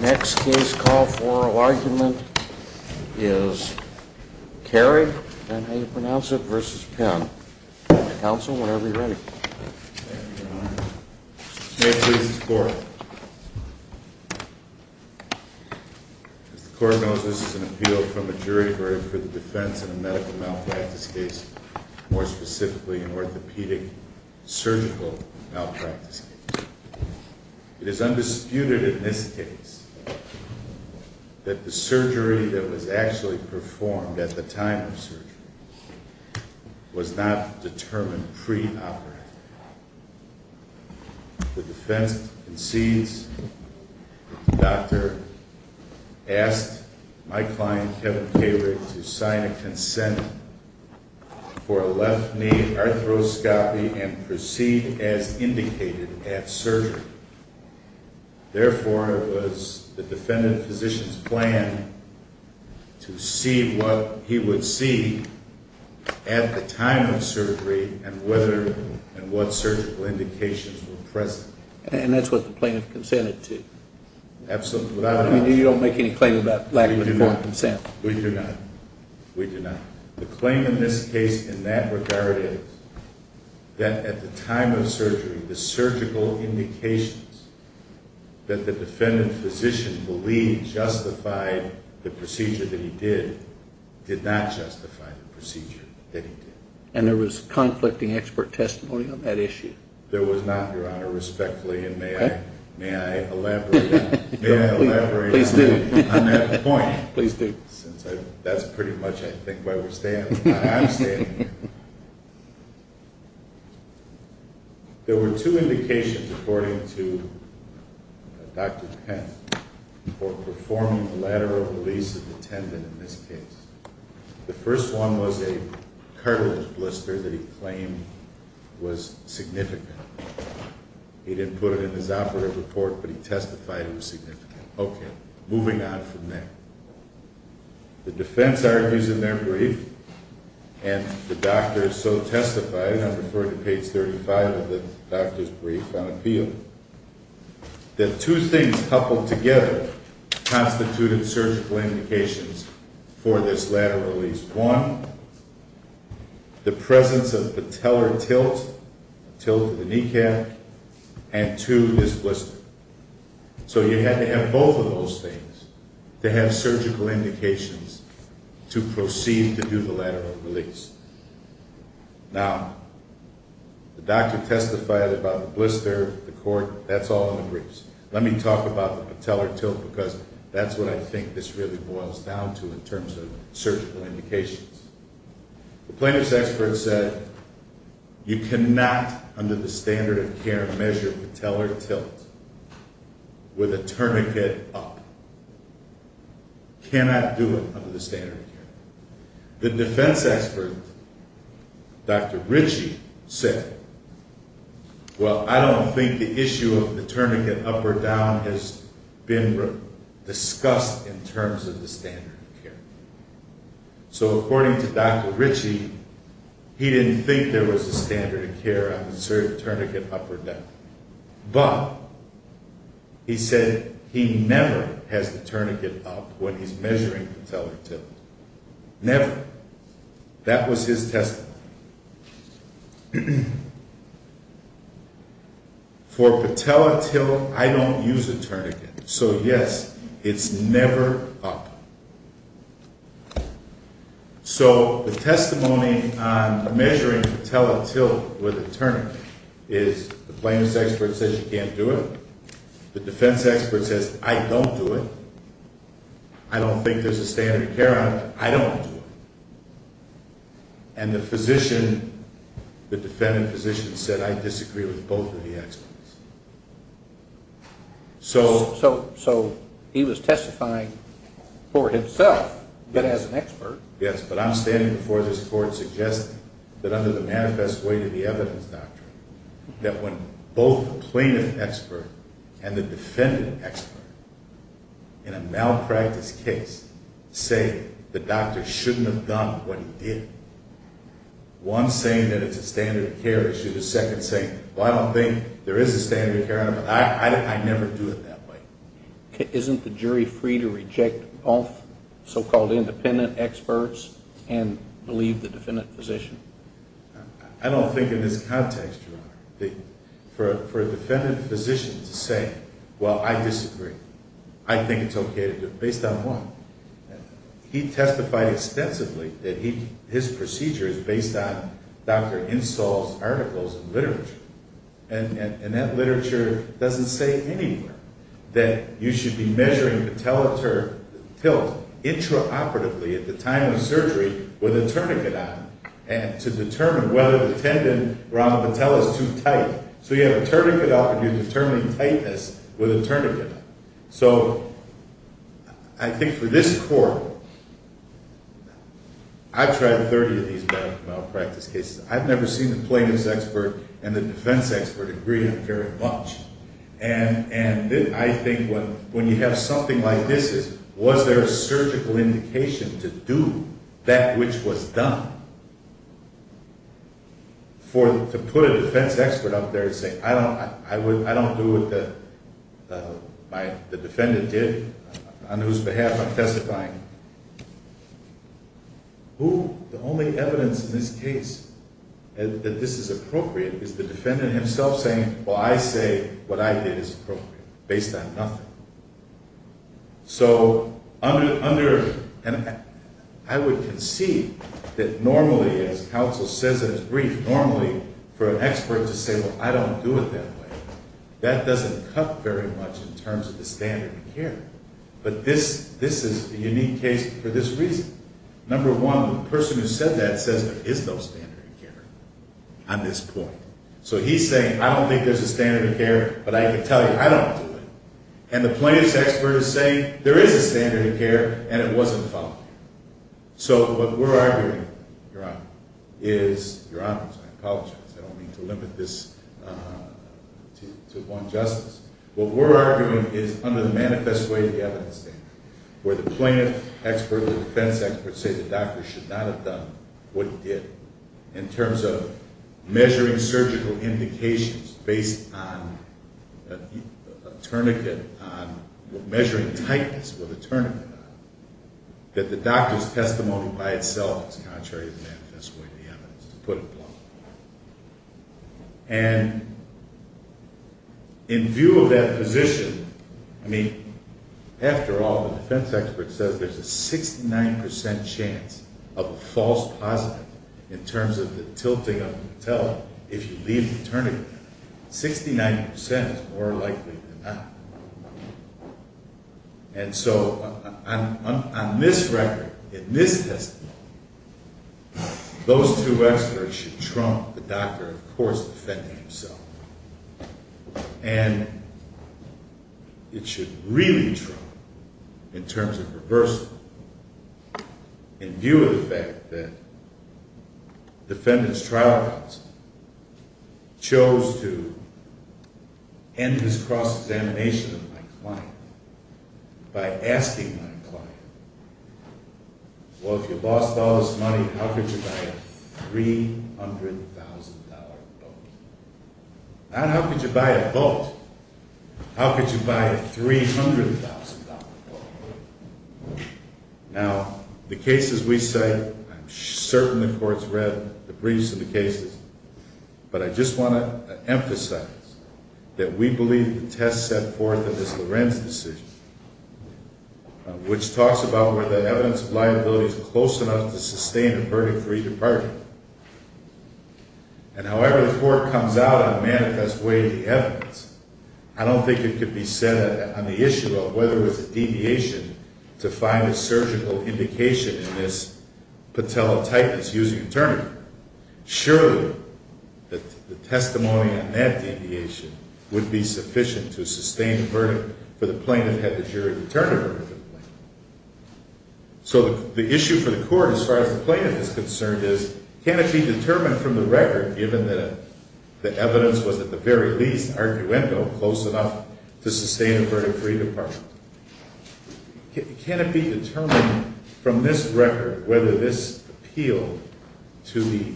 May it please the Court. As the Court knows, this is an appeal from a jury for the defense of a medical malpractice case, more specifically an orthopedic surgical malpractice case. It is undisputed in this case that the surgery that was actually performed at the time of surgery was not determined pre-operatively. The defense concedes that the doctor asked my client Kevin Kahrig to sign a consent for a left knee arthroscopy and proceed as indicated at surgery. Therefore, it was the defendant physician's plan to see what he would see at the time of surgery and whether and what surgical indications were present. And that's what the plaintiff consented to? Absolutely. You don't make any claim about lack of informed consent? We do not. We do not. The claim in this case in that regard is that at the time of surgery, the surgical indications that the defendant physician believed justified the procedure that he did, did not justify the procedure that he did. And there was conflicting expert testimony on that issue? There was not, Your Honor, respectfully, and may I elaborate on that point? Please do. That's pretty much, I think, where we're standing. I am standing here. There were two indications according to Dr. Penn for performing the lateral release of the tendon in this case. The first one was a cartilage blister that he claimed was significant. He didn't put it in his operative report, but he testified it was significant. Okay, moving on from there. The defense argues in their brief, and the doctor so testified, I'm referring to page 35 of the doctor's brief on appeal, that two things coupled together constituted surgical indications for this lateral release. One, the plaintiff's expert said, you cannot, under the standard of care, measure patellar tilt with a tourniquet up. Now, the doctor testified about the blister, the cord, that's all in the briefs. Let me talk about the patellar tilt, because that's what I think this really boils down to in terms of surgical indications. The plaintiff's expert said, you cannot, under the standard of care, measure patellar tilt with a tourniquet up. Cannot do it under the standard of care. The defense expert, Dr. Ritchie, said, well, I don't think the issue of the tourniquet up or down has been discussed in terms of the standard of care. So, according to Dr. Ritchie, he didn't think there was a standard of care on the surgical tourniquet up or down. But, he said, he never has the tourniquet up when he's measuring patellar tilt. Never. That was his testimony. For patellar tilt, I don't use a tourniquet. So, yes, it's never up. So, the testimony on measuring patellar tilt with a tourniquet is, the plaintiff's expert says you can't do it. The defense expert says, I don't do it. I don't think there's a standard of care on it. I don't do it. And the physician, the defendant physician said, I disagree with both of the experts. So, he was testifying for himself, but as an expert. Yes, but I'm standing before this court suggesting that under the manifest way to the evidence doctrine, that when both the plaintiff expert and the defendant expert, in a malpractice case, say the doctor shouldn't have done what he did. One saying that it's a standard of care issue. The second saying, well, I don't think there is a standard of care on it. But, I never do it that way. Isn't the jury free to reject both so-called independent experts and believe the defendant physician? I don't think in this context, Your Honor, for a defendant physician to say, well, I disagree. I think it's okay to do it. Based on what? He testified extensively that his procedure is based on Dr. Insull's articles and literature. And that literature doesn't say anywhere that you should be measuring patellar tilt intraoperatively at the time of surgery with a tourniquet on. And to determine whether the tendon around the patella is too tight. So, you have a tourniquet on and you're determining tightness with a tourniquet on. So, I think for this court, I've tried 30 of these medical malpractice cases. I've never seen the plaintiff's expert and the defense expert agree on very much. And I think when you have something like this, was there a surgical indication to do that which was done? To put a defense expert out there and say, I don't do what the defendant did on whose behalf I'm testifying. The only evidence in this case that this is appropriate is the defendant himself saying, well, I say what I did is appropriate based on nothing. So, I would concede that normally, as counsel says in his brief, normally for an expert to say, well, I don't do it that way, that doesn't cut very much in terms of the standard of care. But this is a unique case for this reason. Number one, the person who said that says there is no standard of care on this point. So, he's saying I don't think there's a standard of care, but I can tell you I don't do it. And the plaintiff's expert is saying there is a standard of care and it wasn't followed. So, what we're arguing, Your Honor, is, Your Honors, I apologize, I don't mean to limit this to one justice. What we're arguing is under the manifest way of the evidence statement where the plaintiff's expert and the defense expert say the doctor should not have done what he did. In terms of measuring surgical indications based on a tourniquet, measuring tightness with a tourniquet on, that the doctor's testimony by itself is contrary to the manifest way of the evidence to put it bluntly. And in view of that position, I mean, after all, the defense expert says there's a 69% chance of a false positive in terms of the tilting of the patella if you leave the tourniquet. 69% is more likely than not. And so, on this record, in this testimony, those two experts should trump the doctor, of course, defending himself. And it should really trump, in terms of reversal, in view of the fact that the defendant's trial counsel chose to end this cross-examination of my client by asking my client, well, if you lost all this money, how could you buy a $300,000 boat? Not how could you buy a boat. How could you buy a $300,000 boat? Now, the cases we cite, I'm certain the Court's read the briefs of the cases, but I just want to emphasize that we believe the test set forth in this Lorenz decision, which talks about whether the evidence of liability is close enough to sustain a Verdi 3 department. And however the Court comes out and manifests way the evidence, I don't think it could be said on the issue of whether there's a deviation to find a surgical indication in this patella typus using a tourniquet. Surely, the testimony on that deviation would be sufficient to sustain a verdict for the plaintiff had the jury determined a verdict for the plaintiff. So the issue for the Court, as far as the plaintiff is concerned, is can it be determined from the record, given that the evidence was, at the very least, arguendo, close enough to sustain a verdict for each department. Can it be determined from this record whether this appeal to the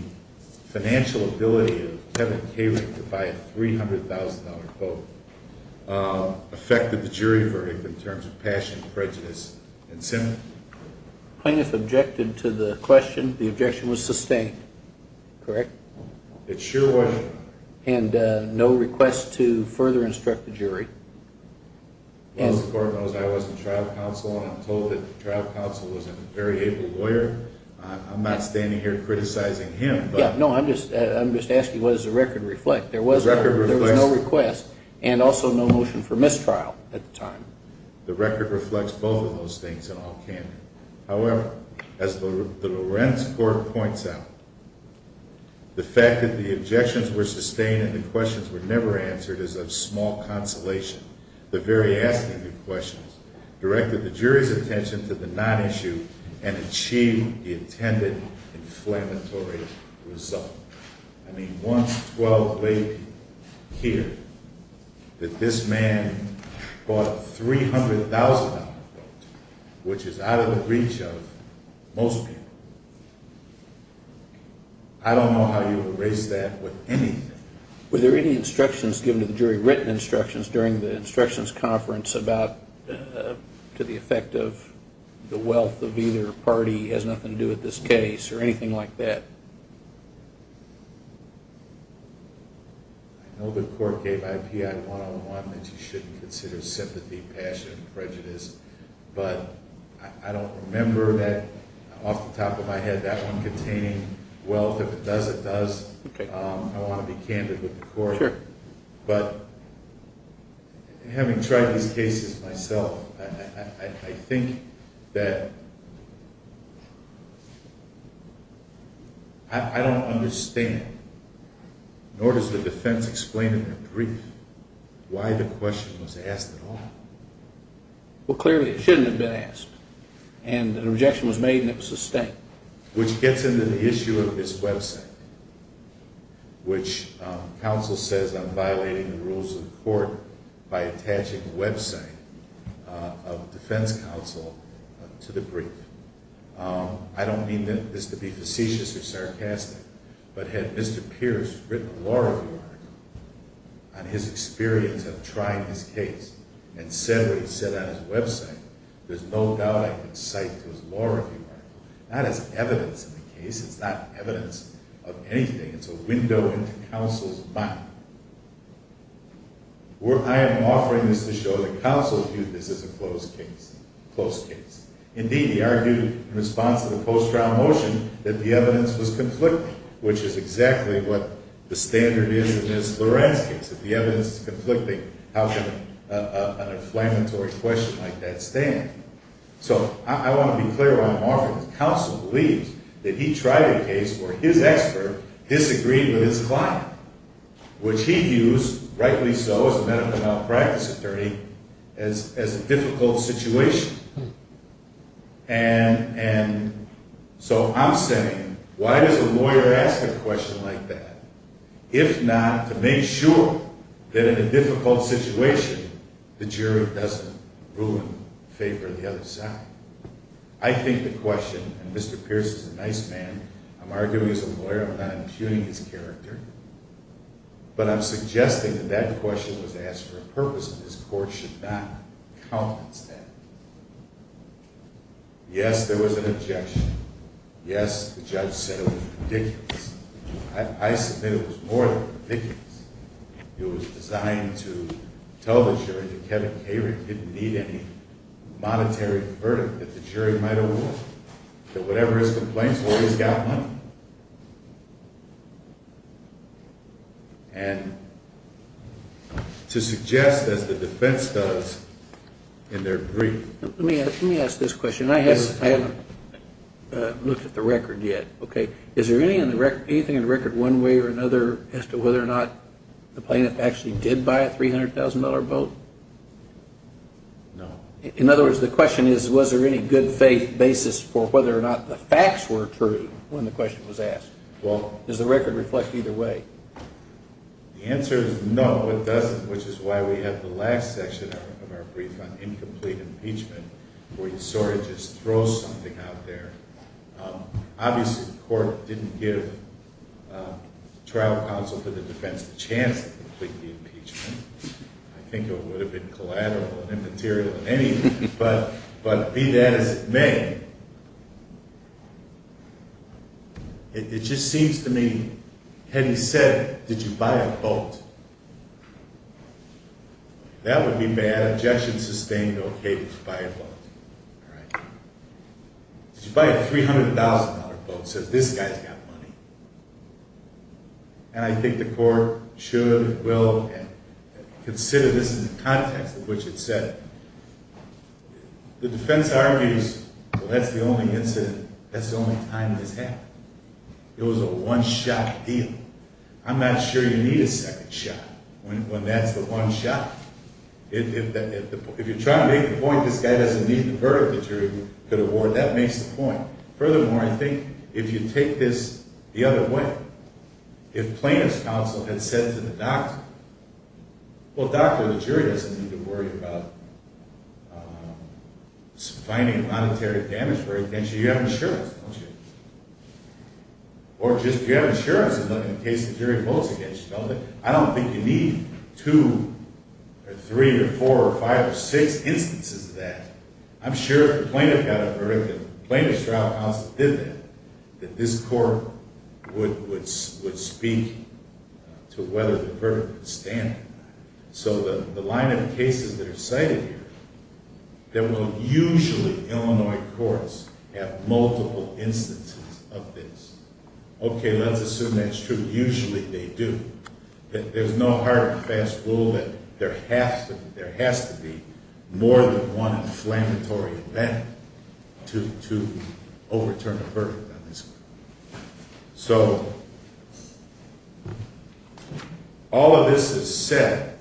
financial ability of Kevin Kaling to buy a $300,000 boat affected the jury verdict in terms of passion, prejudice, and sentiment? The plaintiff objected to the question. The objection was sustained, correct? It sure was. And no request to further instruct the jury? As far as the Court knows, I was in trial counsel and I'm told that the trial counsel was a very able lawyer. I'm not standing here criticizing him. Yeah, no, I'm just asking what does the record reflect? There was no request and also no motion for mistrial at the time. The record reflects both of those things in all candid. However, as the Lorenz Court points out, the fact that the objections were sustained and the questions were never answered is of small consolation. The very asking of questions directed the jury's attention to the non-issue and achieved the intended inflammatory result. I mean, once, twelve, maybe, here, that this man bought a $300,000 boat, which is out of the reach of most people. I don't know how you would erase that with anything. Were there any instructions given to the jury, written instructions, during the instructions conference about, to the effect of the wealth of either party has nothing to do with this case or anything like that? I know the Court gave IPI 101 that you shouldn't consider sympathy, passion, prejudice, but I don't remember that off the top of my head, that one containing wealth. If it does, it does. I want to be candid with the Court. But, having tried these cases myself, I think that I don't understand, nor does the defense explain in their brief, why the question was asked at all. Well, clearly it shouldn't have been asked. And an objection was made and it was sustained. Which gets into the issue of his website, which counsel says I'm violating the rules of the Court by attaching the website of defense counsel to the brief. I don't mean this to be facetious or sarcastic, but had Mr. Pierce written a law review article on his experience of trying this case and said what he said on his website, there's no doubt I could cite those law review articles, not as evidence of the case, it's not evidence of anything, it's a window into counsel's mind. I am offering this to show that counsel viewed this as a closed case. Indeed, he argued in response to the post-trial motion that the evidence was conflicting, which is exactly what the standard is in Ms. Loren's case. If the evidence is conflicting, how can an inflammatory question like that stand? So, I want to be clear while I'm offering this. Counsel believes that he tried a case where his expert disagreed with his client. Which he views, rightly so, as a medical malpractice attorney, as a difficult situation. And so I'm saying, why does a lawyer ask a question like that, if not to make sure that in a difficult situation, the jury doesn't ruin the favor of the other side? I think the question, and Mr. Pierce is a nice man, I'm arguing as a lawyer, I'm not impugning his character, but I'm suggesting that that question was asked for a purpose and this Court should not countenance that. Yes, there was an objection. Yes, the judge said it was ridiculous. I submit it was more than ridiculous. It was designed to tell the jury that Kevin Kary didn't need any monetary verdict that the jury might award. That whatever his complaints were, he's got money. And to suggest, as the defense does, in their brief. Let me ask this question. I haven't looked at the record yet. Is there anything in the record one way or another as to whether or not the plaintiff actually did buy a $300,000 boat? No. In other words, the question is, was there any good faith basis for whether or not the facts were true when the question was asked? Well, does the record reflect either way? The answer is no, it doesn't, which is why we have the last section of our brief on incomplete impeachment, where you sort of just throw something out there. Obviously, the Court didn't give trial counsel for the defense the chance to complete the impeachment. I think it would have been collateral and immaterial in any way, but be that as it may. It just seems to me, had he said, did you buy a boat? That would be bad. Objection sustained. Okay, did you buy a boat? Did you buy a $300,000 boat? Says, this guy's got money. And I think the Court should, will consider this in the context in which it's set. The defense argues, well, that's the only incident, that's the only time this happened. It was a one-shot deal. I'm not sure you need a second shot when that's the one shot. If you're trying to make the point this guy doesn't need the verdict the jury could award, that makes the point. Furthermore, I think if you take this the other way, if plaintiff's counsel had said to the doctor, Well, doctor, the jury doesn't need to worry about finding monetary damage. You have insurance, don't you? Or just, you have insurance in case the jury votes against you. I don't think you need two or three or four or five or six instances of that. I'm sure if the plaintiff got a verdict, if the plaintiff's trial counsel did that, that this Court would speak to whether the verdict would stand. So the line of cases that are cited here, that will usually, Illinois courts, have multiple instances of this. Okay, let's assume that's true. Usually they do. There's no hard and fast rule that there has to be more than one inflammatory event to overturn a verdict on this case. So, all of this is set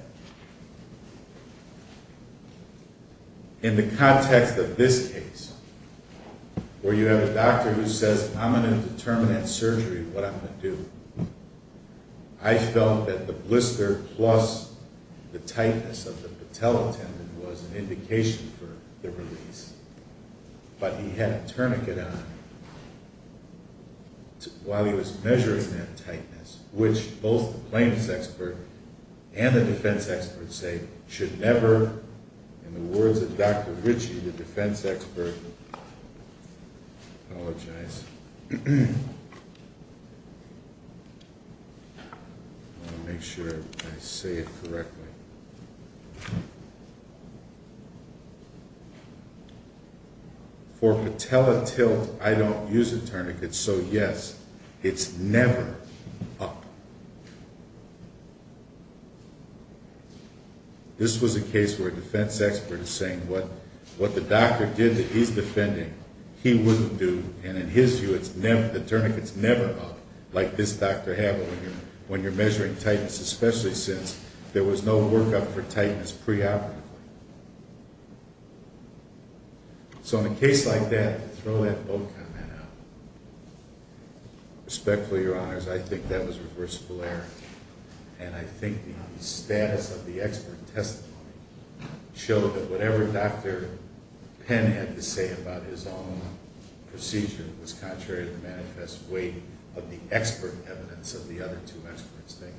in the context of this case, where you have a doctor who says, I'm going to determine at surgery what I'm going to do. I felt that the blister plus the tightness of the patella tendon was an indication for the release. But he had a tourniquet on while he was measuring that tightness, which both the plaintiff's expert and the defense expert say should never, in the words of Dr. Ritchie, the defense expert, I want to make sure I say it correctly. For patella tilt, I don't use a tourniquet, so yes, it's never up. This was a case where a defense expert is saying what the doctor did that he's defending, he wouldn't do, and in his view, the tourniquet's never up like this doctor had when you're measuring tightness, especially since there was no workup for tightness preoperatively. So in a case like that, throw that boat comment out. Respectfully, Your Honors, I think that was reversible error. And I think the status of the expert testimony showed that whatever Dr. Penn had to say about his own procedure was contrary to the manifest weight of the expert evidence of the other two experts. Thank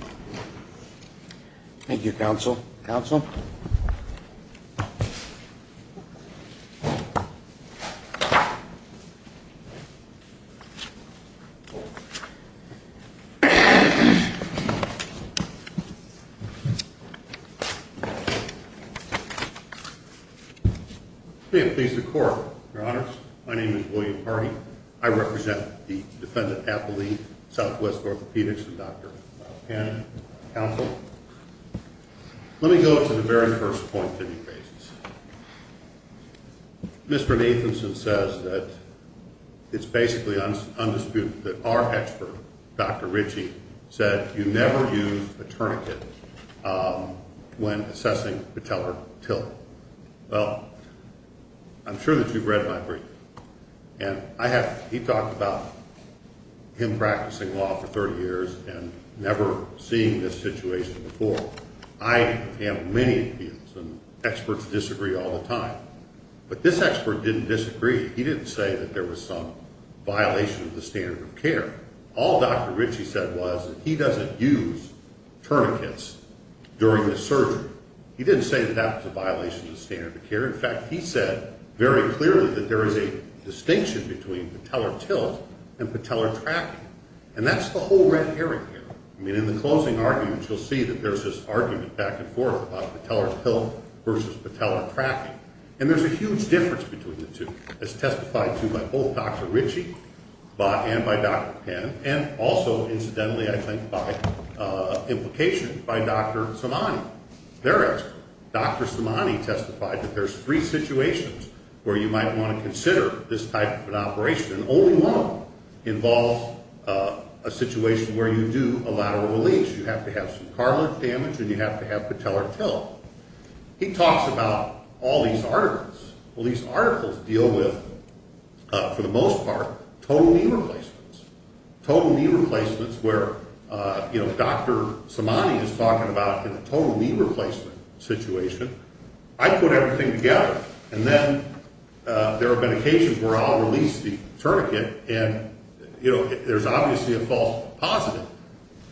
you. Thank you, Counsel. Counsel. Please be seated. May it please the Court, Your Honors. My name is William Hardy. I represent the defendant, Apolline, Southwest Orthopedics, and Dr. Penn. Counsel. Let me go to the very first point that you raised. Mr. Nathanson says that it's basically undisputed that our expert, Dr. Ritchie, said you never use a tourniquet when assessing patellar tilt. Well, I'm sure that you've read my brief, and he talked about him practicing law for 30 years and never seeing this situation before. I have many opinions, and experts disagree all the time. But this expert didn't disagree. He didn't say that there was some violation of the standard of care. All Dr. Ritchie said was that he doesn't use tourniquets during his surgery. He didn't say that that was a violation of the standard of care. In fact, he said very clearly that there is a distinction between patellar tilt and patellar tracking, and that's the whole red herring here. I mean, in the closing arguments, you'll see that there's this argument back and forth about patellar tilt versus patellar tracking. And there's a huge difference between the two. It's testified to by both Dr. Ritchie and by Dr. Penn, and also, incidentally, I think, by implication by Dr. Somanyi. Their expert, Dr. Somanyi, testified that there's three situations where you might want to consider this type of an operation, and only one involves a situation where you do a lateral release. You have to have some cartilage damage, and you have to have patellar tilt. He talks about all these articles. Well, these articles deal with, for the most part, total knee replacements, total knee replacements where Dr. Somanyi is talking about the total knee replacement situation. I put everything together, and then there have been occasions where I'll release the tourniquet, and, you know, there's obviously a false positive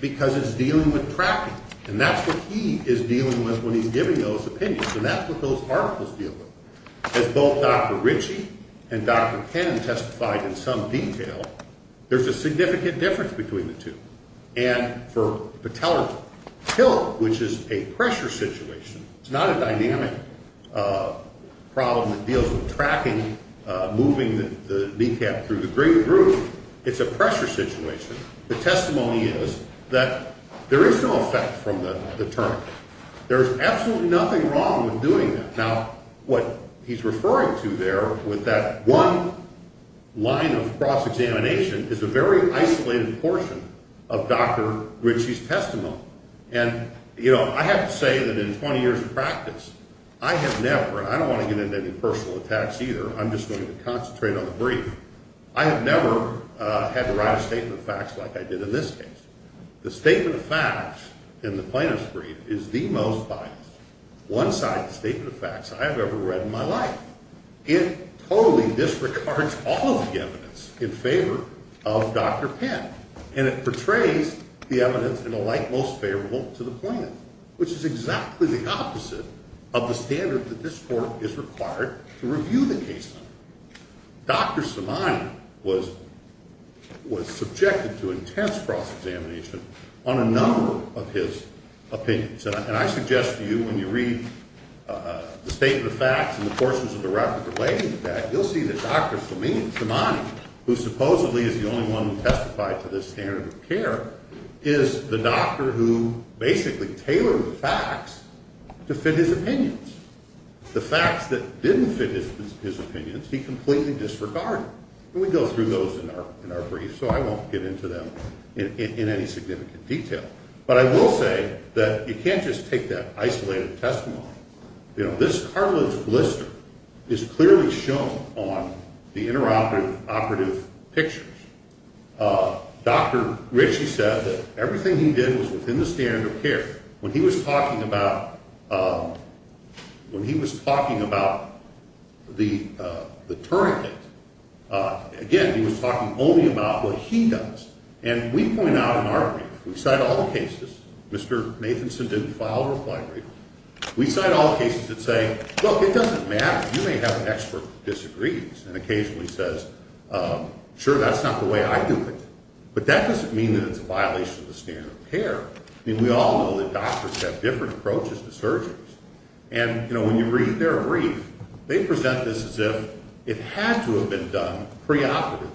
because it's dealing with tracking, and that's what he is dealing with when he's giving those opinions, and that's what those articles deal with. As both Dr. Ritchie and Dr. Penn testified in some detail, there's a significant difference between the two. And for patellar tilt, which is a pressure situation, it's not a dynamic problem that deals with tracking, moving the kneecap through the great groove. It's a pressure situation. The testimony is that there is no effect from the tourniquet. There's absolutely nothing wrong with doing that. Now, what he's referring to there with that one line of cross-examination is a very isolated portion of Dr. Ritchie's testimony. And, you know, I have to say that in 20 years of practice, I have never, and I don't want to get into any personal attacks either. I'm just going to concentrate on the brief. I have never had to write a statement of facts like I did in this case. The statement of facts in the plaintiff's brief is the most biased one-sided statement of facts I have ever read in my life. It totally disregards all of the evidence in favor of Dr. Penn, and it portrays the evidence in the light most favorable to the plaintiff, which is exactly the opposite of the standard that this Court is required to review the case under. Dr. Simone was subjected to intense cross-examination on a number of his opinions. And I suggest to you when you read the statement of facts and the portions of the record relating to that, you'll see that Dr. Simone, who supposedly is the only one who testified to this standard of care, is the doctor who basically tailored the facts to fit his opinions. The facts that didn't fit his opinions, he completely disregarded. And we go through those in our brief, so I won't get into them in any significant detail. But I will say that you can't just take that isolated testimony. You know, this cartilage blister is clearly shown on the interoperative pictures. Dr. Ritchie said that everything he did was within the standard of care. When he was talking about the tourniquet, again, he was talking only about what he does. And we point out in our brief, we cite all the cases. Mr. Nathanson didn't file a reply brief. We cite all the cases that say, look, it doesn't matter. You may have an expert who disagrees and occasionally says, sure, that's not the way I do it. But that doesn't mean that it's a violation of the standard of care. I mean, we all know that doctors have different approaches to surgeons. And, you know, when you read their brief, they present this as if it had to have been done preoperatively.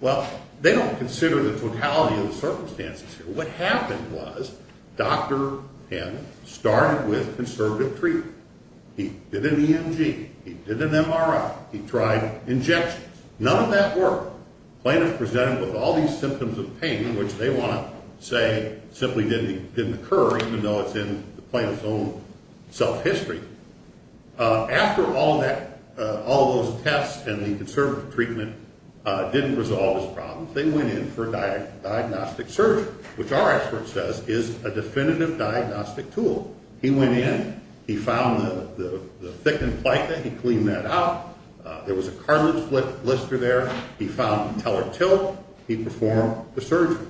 Well, they don't consider the totality of the circumstances here. What happened was Dr. Penn started with conservative treatment. He did an EMG. He did an MRI. He tried injections. None of that worked. The plaintiff presented with all these symptoms of pain, which they want to say simply didn't occur, even though it's in the plaintiff's own self-history. After all of that, all of those tests and the conservative treatment didn't resolve his problems, they went in for a diagnostic surgery, which our expert says is a definitive diagnostic tool. He went in. He found the thickened plica. He cleaned that out. There was a cartilage blister there. He found the teller tilt. He performed the surgery.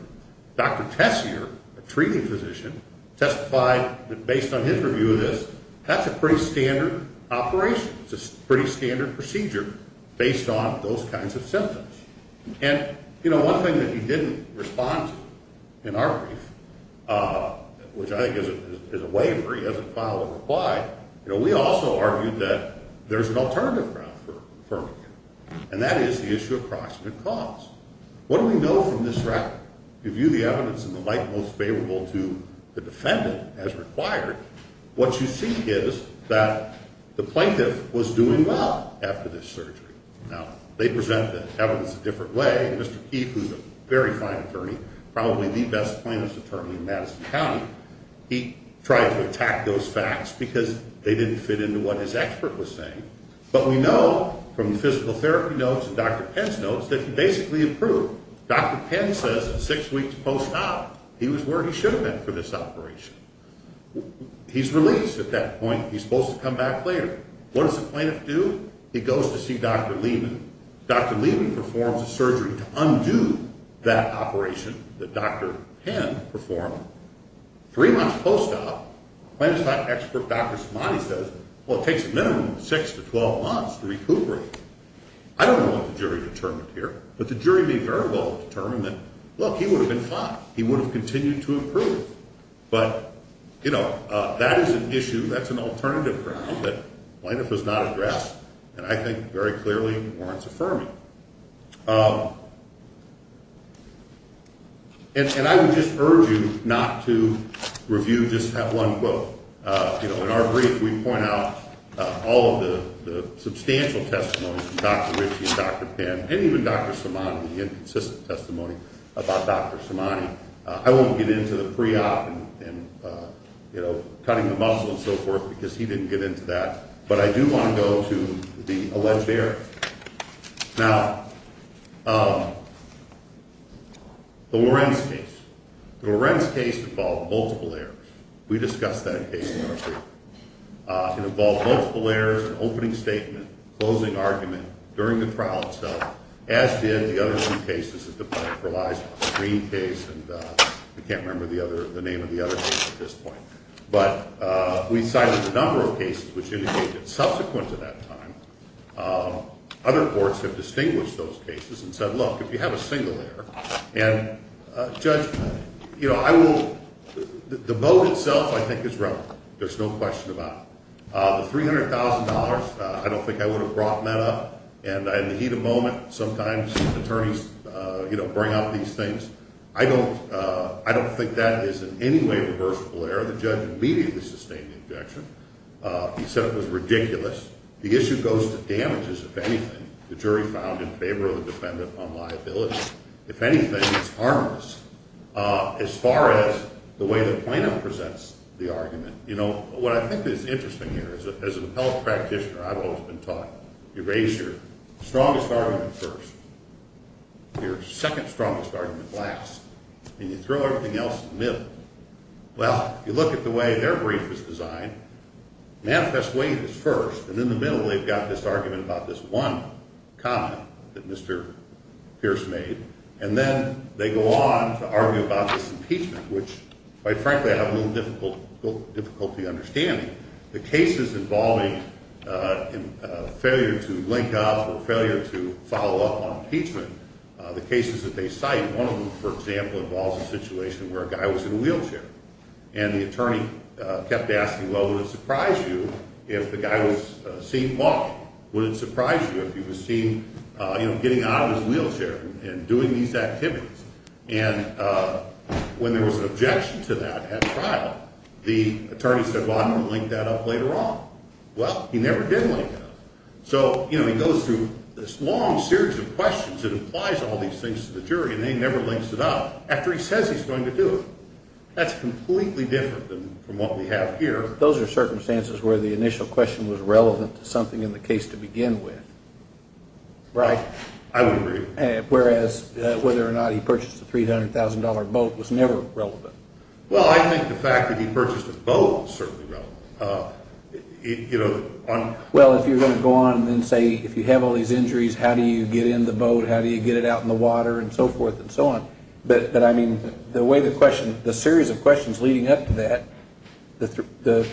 Dr. Tessier, a treating physician, testified that based on his review of this, that's a pretty standard operation. It's a pretty standard procedure based on those kinds of symptoms. And, you know, one thing that he didn't respond to in our brief, which I think is a waver. He hasn't filed a reply. You know, we also argued that there's an alternative route for affirming it, and that is the issue of proximate cause. What do we know from this record? We view the evidence in the light most favorable to the defendant as required. What you see is that the plaintiff was doing well after this surgery. Now, they present the evidence a different way. Mr. Keith, who's a very fine attorney, probably the best plaintiff's attorney in Madison County, he tried to attack those facts because they didn't fit into what his expert was saying. But we know from the physical therapy notes and Dr. Penn's notes that he basically improved. Dr. Penn says in six weeks post-op he was where he should have been for this operation. He's released at that point. He's supposed to come back later. What does the plaintiff do? He goes to see Dr. Leeman. Dr. Leeman performs a surgery to undo that operation that Dr. Penn performed. Three months post-op, plaintiff's expert, Dr. Somadi, says, Well, it takes a minimum of six to 12 months to recuperate. I don't know what the jury determined here, but the jury may very well have determined that, look, he would have been fine. He would have continued to improve. But, you know, that is an issue. That's an alternative ground that plaintiff has not addressed, and I think very clearly warrants affirming. And I would just urge you not to review just that one quote. You know, in our brief we point out all of the substantial testimonies from Dr. Ritchie and Dr. Penn and even Dr. Somadi, the inconsistent testimony about Dr. Somadi. I won't get into the pre-op and, you know, cutting the muscle and so forth because he didn't get into that, but I do want to go to the alleged error. Now, the Lorenz case. The Lorenz case involved multiple errors. We discussed that case in our brief. It involved multiple errors, an opening statement, closing argument during the trial itself, as did the other two cases that the plaintiff relies on, the Green case, and I can't remember the name of the other case at this point. But we cited a number of cases which indicated subsequent to that time, other courts have distinguished those cases and said, look, if you have a single error, and, Judge, you know, I will, the vote itself I think is relevant. There's no question about it. The $300,000, I don't think I would have brought that up, and in the heat of the moment sometimes attorneys, you know, bring up these things. I don't think that is in any way reversible error. The judge immediately sustained the objection. He said it was ridiculous. The issue goes to damages, if anything, the jury found in favor of the defendant on liability. If anything, it's harmless. As far as the way the plaintiff presents the argument, you know, what I think is interesting here is as an appellate practitioner, I've always been taught, you raise your strongest argument first, your second strongest argument last, and you throw everything else in the middle. Well, if you look at the way their brief was designed, manifest weight is first, and in the middle they've got this argument about this one comment that Mr. Pierce made, and then they go on to argue about this impeachment, which, quite frankly, I have a little difficulty understanding. The cases involving failure to link up or failure to follow up on impeachment, the cases that they cite, one of them, for example, involves a situation where a guy was in a wheelchair, and the attorney kept asking, well, would it surprise you if the guy was seen walking? Would it surprise you if he was seen, you know, getting out of his wheelchair and doing these activities? And when there was an objection to that at trial, the attorney said, well, I'm going to link that up later on. Well, he never did link it up. So, you know, he goes through this long series of questions that implies all these things to the jury, and he never links it up after he says he's going to do it. That's completely different than what we have here. Those are circumstances where the initial question was relevant to something in the case to begin with, right? I would agree. Whereas whether or not he purchased a $300,000 boat was never relevant. Well, I think the fact that he purchased a boat is certainly relevant. Well, if you're going to go on and say if you have all these injuries, how do you get in the boat, how do you get it out in the water and so forth and so on, but, I mean, the way the question, the series of questions leading up to that, the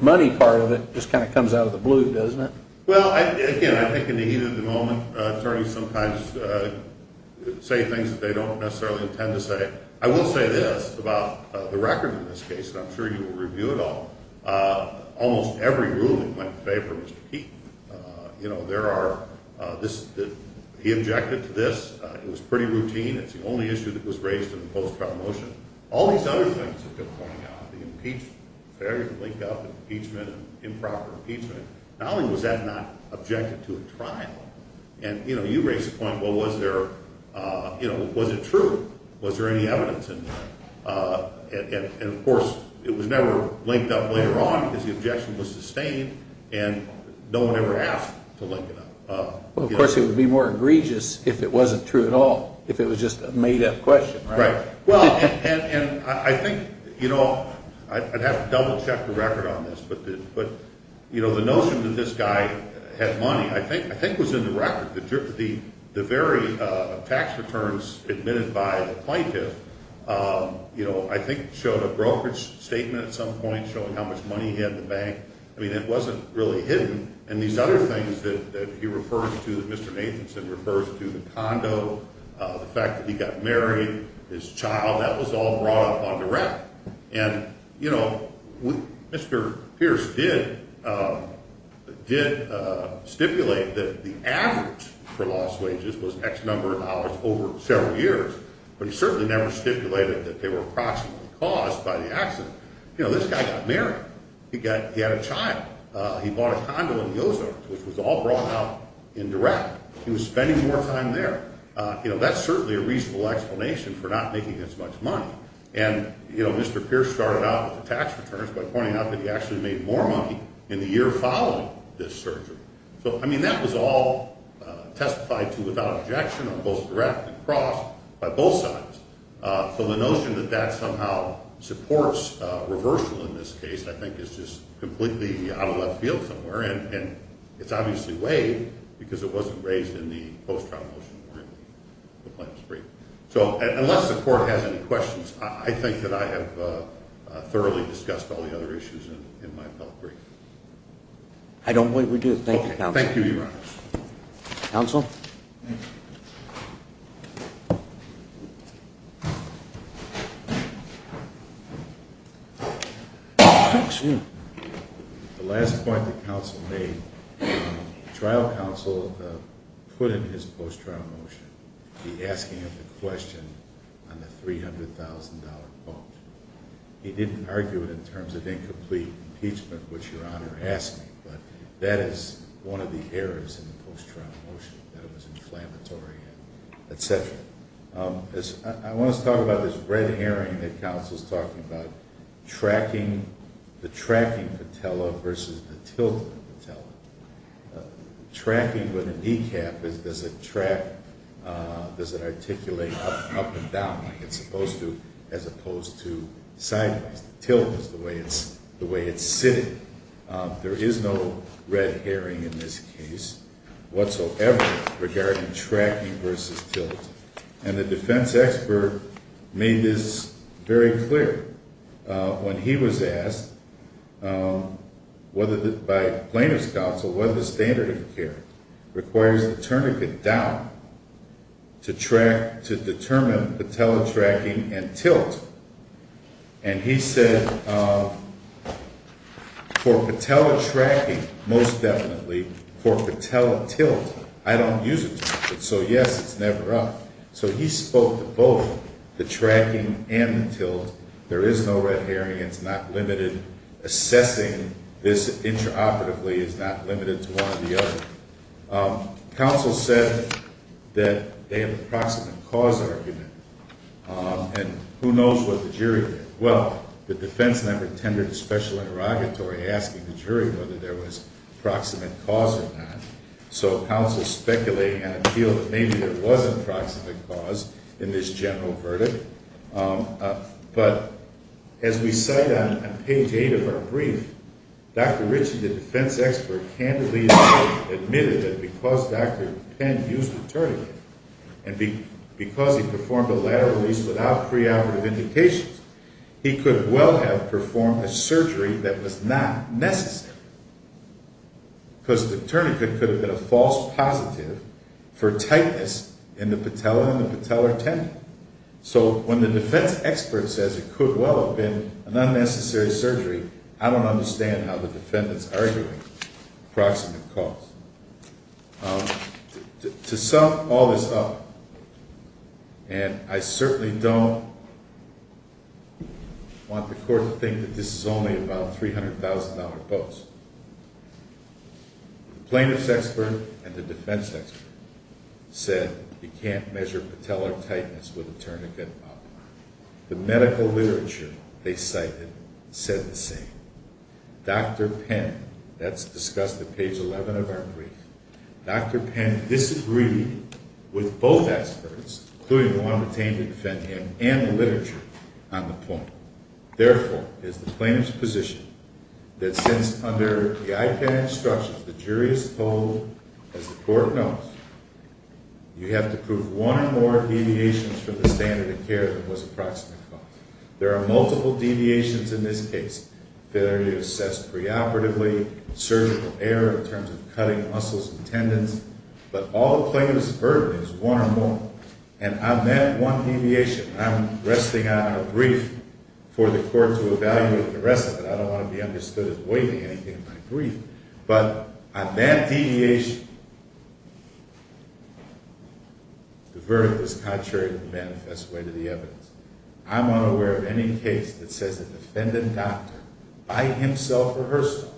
money part of it just kind of comes out of the blue, doesn't it? Well, again, I think in the heat of the moment, attorneys sometimes say things that they don't necessarily intend to say. I will say this about the record in this case, and I'm sure you will review it all. Almost every ruling went in favor of Mr. Keeton. You know, there are this, he objected to this. It was pretty routine. It's the only issue that was raised in the post-trial motion. All these other things have been pointed out, the impeachment. There you can link up impeachment and improper impeachment. Not only was that not objected to at trial, and, you know, you raise the point, well, was there, you know, was it true? Was there any evidence? And, of course, it was never linked up later on because the objection was sustained, and no one ever asked to link it up. Well, of course, it would be more egregious if it wasn't true at all, if it was just a made-up question, right? Right. And I think, you know, I'd have to double-check the record on this, but, you know, the notion that this guy had money I think was in the record. The very tax returns admitted by the plaintiff, you know, I think showed a brokerage statement at some point showing how much money he had in the bank. I mean, it wasn't really hidden. And these other things that he refers to, that Mr. Nathanson refers to, the condo, the fact that he got married, his child, that was all brought up on direct. And, you know, Mr. Pierce did stipulate that the average for lost wages was X number of hours over several years, but he certainly never stipulated that they were approximately caused by the accident. You know, this guy got married. He had a child. He bought a condo in the Ozarks, which was all brought up in direct. He was spending more time there. You know, that's certainly a reasonable explanation for not making as much money. And, you know, Mr. Pierce started out with the tax returns by pointing out that he actually made more money in the year following this surgery. So, I mean, that was all testified to without objection or both direct and cross by both sides. So the notion that that somehow supports reversal in this case I think is just completely out of left field somewhere. And it's obviously waived because it wasn't raised in the post-trial motion. So unless the court has any questions, I think that I have thoroughly discussed all the other issues in my appellate brief. I don't believe we do. Thank you, Your Honor. Thank you, Your Honor. Counsel? The last point the counsel made, the trial counsel put in his post-trial motion the asking of the question on the $300,000 bond. He didn't argue it in terms of incomplete impeachment, which Your Honor asked me, but that is one of the errors in the post-trial motion. That it was inflammatory and et cetera. I want to talk about this red herring that counsel is talking about, tracking, the tracking patella versus the tilt of the patella. Tracking with a kneecap, does it track, does it articulate up and down like it's supposed to as opposed to sideways. The tilt is the way it's sitting. There is no red herring in this case whatsoever regarding tracking versus tilt. And the defense expert made this very clear when he was asked by Plano's counsel whether the standard of care requires the tourniquet down to track, to determine the patella tracking and tilt. And he said for patella tracking, most definitely, for patella tilt, I don't use a tourniquet. So yes, it's never up. So he spoke to both the tracking and the tilt. There is no red herring. It's not limited. Assessing this intraoperatively is not limited to one or the other. Counsel said that they have a proximate cause argument. And who knows what the jury did. Well, the defense never tendered a special interrogatory asking the jury whether there was proximate cause or not. So counsel speculated and appealed that maybe there was a proximate cause in this general verdict. But as we cite on page 8 of our brief, Dr. Ritchie, the defense expert, candidly admitted that because Dr. Penn used the tourniquet, and because he performed a lateral release without preoperative indications, he could well have performed a surgery that was not necessary. Because the tourniquet could have been a false positive for tightness in the patella and the patellar tendon. So when the defense expert says it could well have been an unnecessary surgery, I don't understand how the defendants are arguing proximate cause. To sum all this up, and I certainly don't want the court to think that this is only about $300,000 boats, the plaintiff's expert and the defense expert said you can't measure patellar tightness with a tourniquet up. The medical literature they cited said the same. Dr. Penn, that's discussed at page 11 of our brief, Dr. Penn disagreed with both experts, including the one obtained to defend him, and the literature on the point. Therefore, is the plaintiff's position that since under the IPAD instructions the jury is told, as the court knows, you have to prove one or more deviations from the standard of care that was approximate cause. There are multiple deviations in this case that are assessed preoperatively, surgical error in terms of cutting muscles and tendons, but all the plaintiff's burden is one or more. And on that one deviation, I'm resting on a brief for the court to evaluate the rest of it. I don't want to be understood as waiving anything in my brief. But on that deviation, the verdict is contrary to the manifest way to the evidence. I'm unaware of any case that says a defendant doctor, by himself or herself,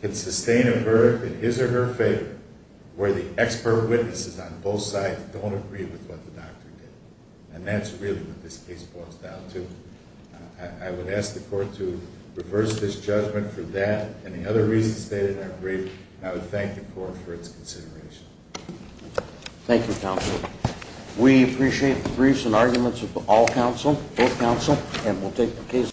can sustain a verdict in his or her favor where the expert witnesses on both sides don't agree with what the doctor did. And that's really what this case boils down to. I would ask the court to reverse this judgment for that and the other reasons stated in our brief, and I would thank the court for its consideration. Thank you, counsel. We appreciate the briefs and arguments of all counsel, both counsel, and we'll take the case.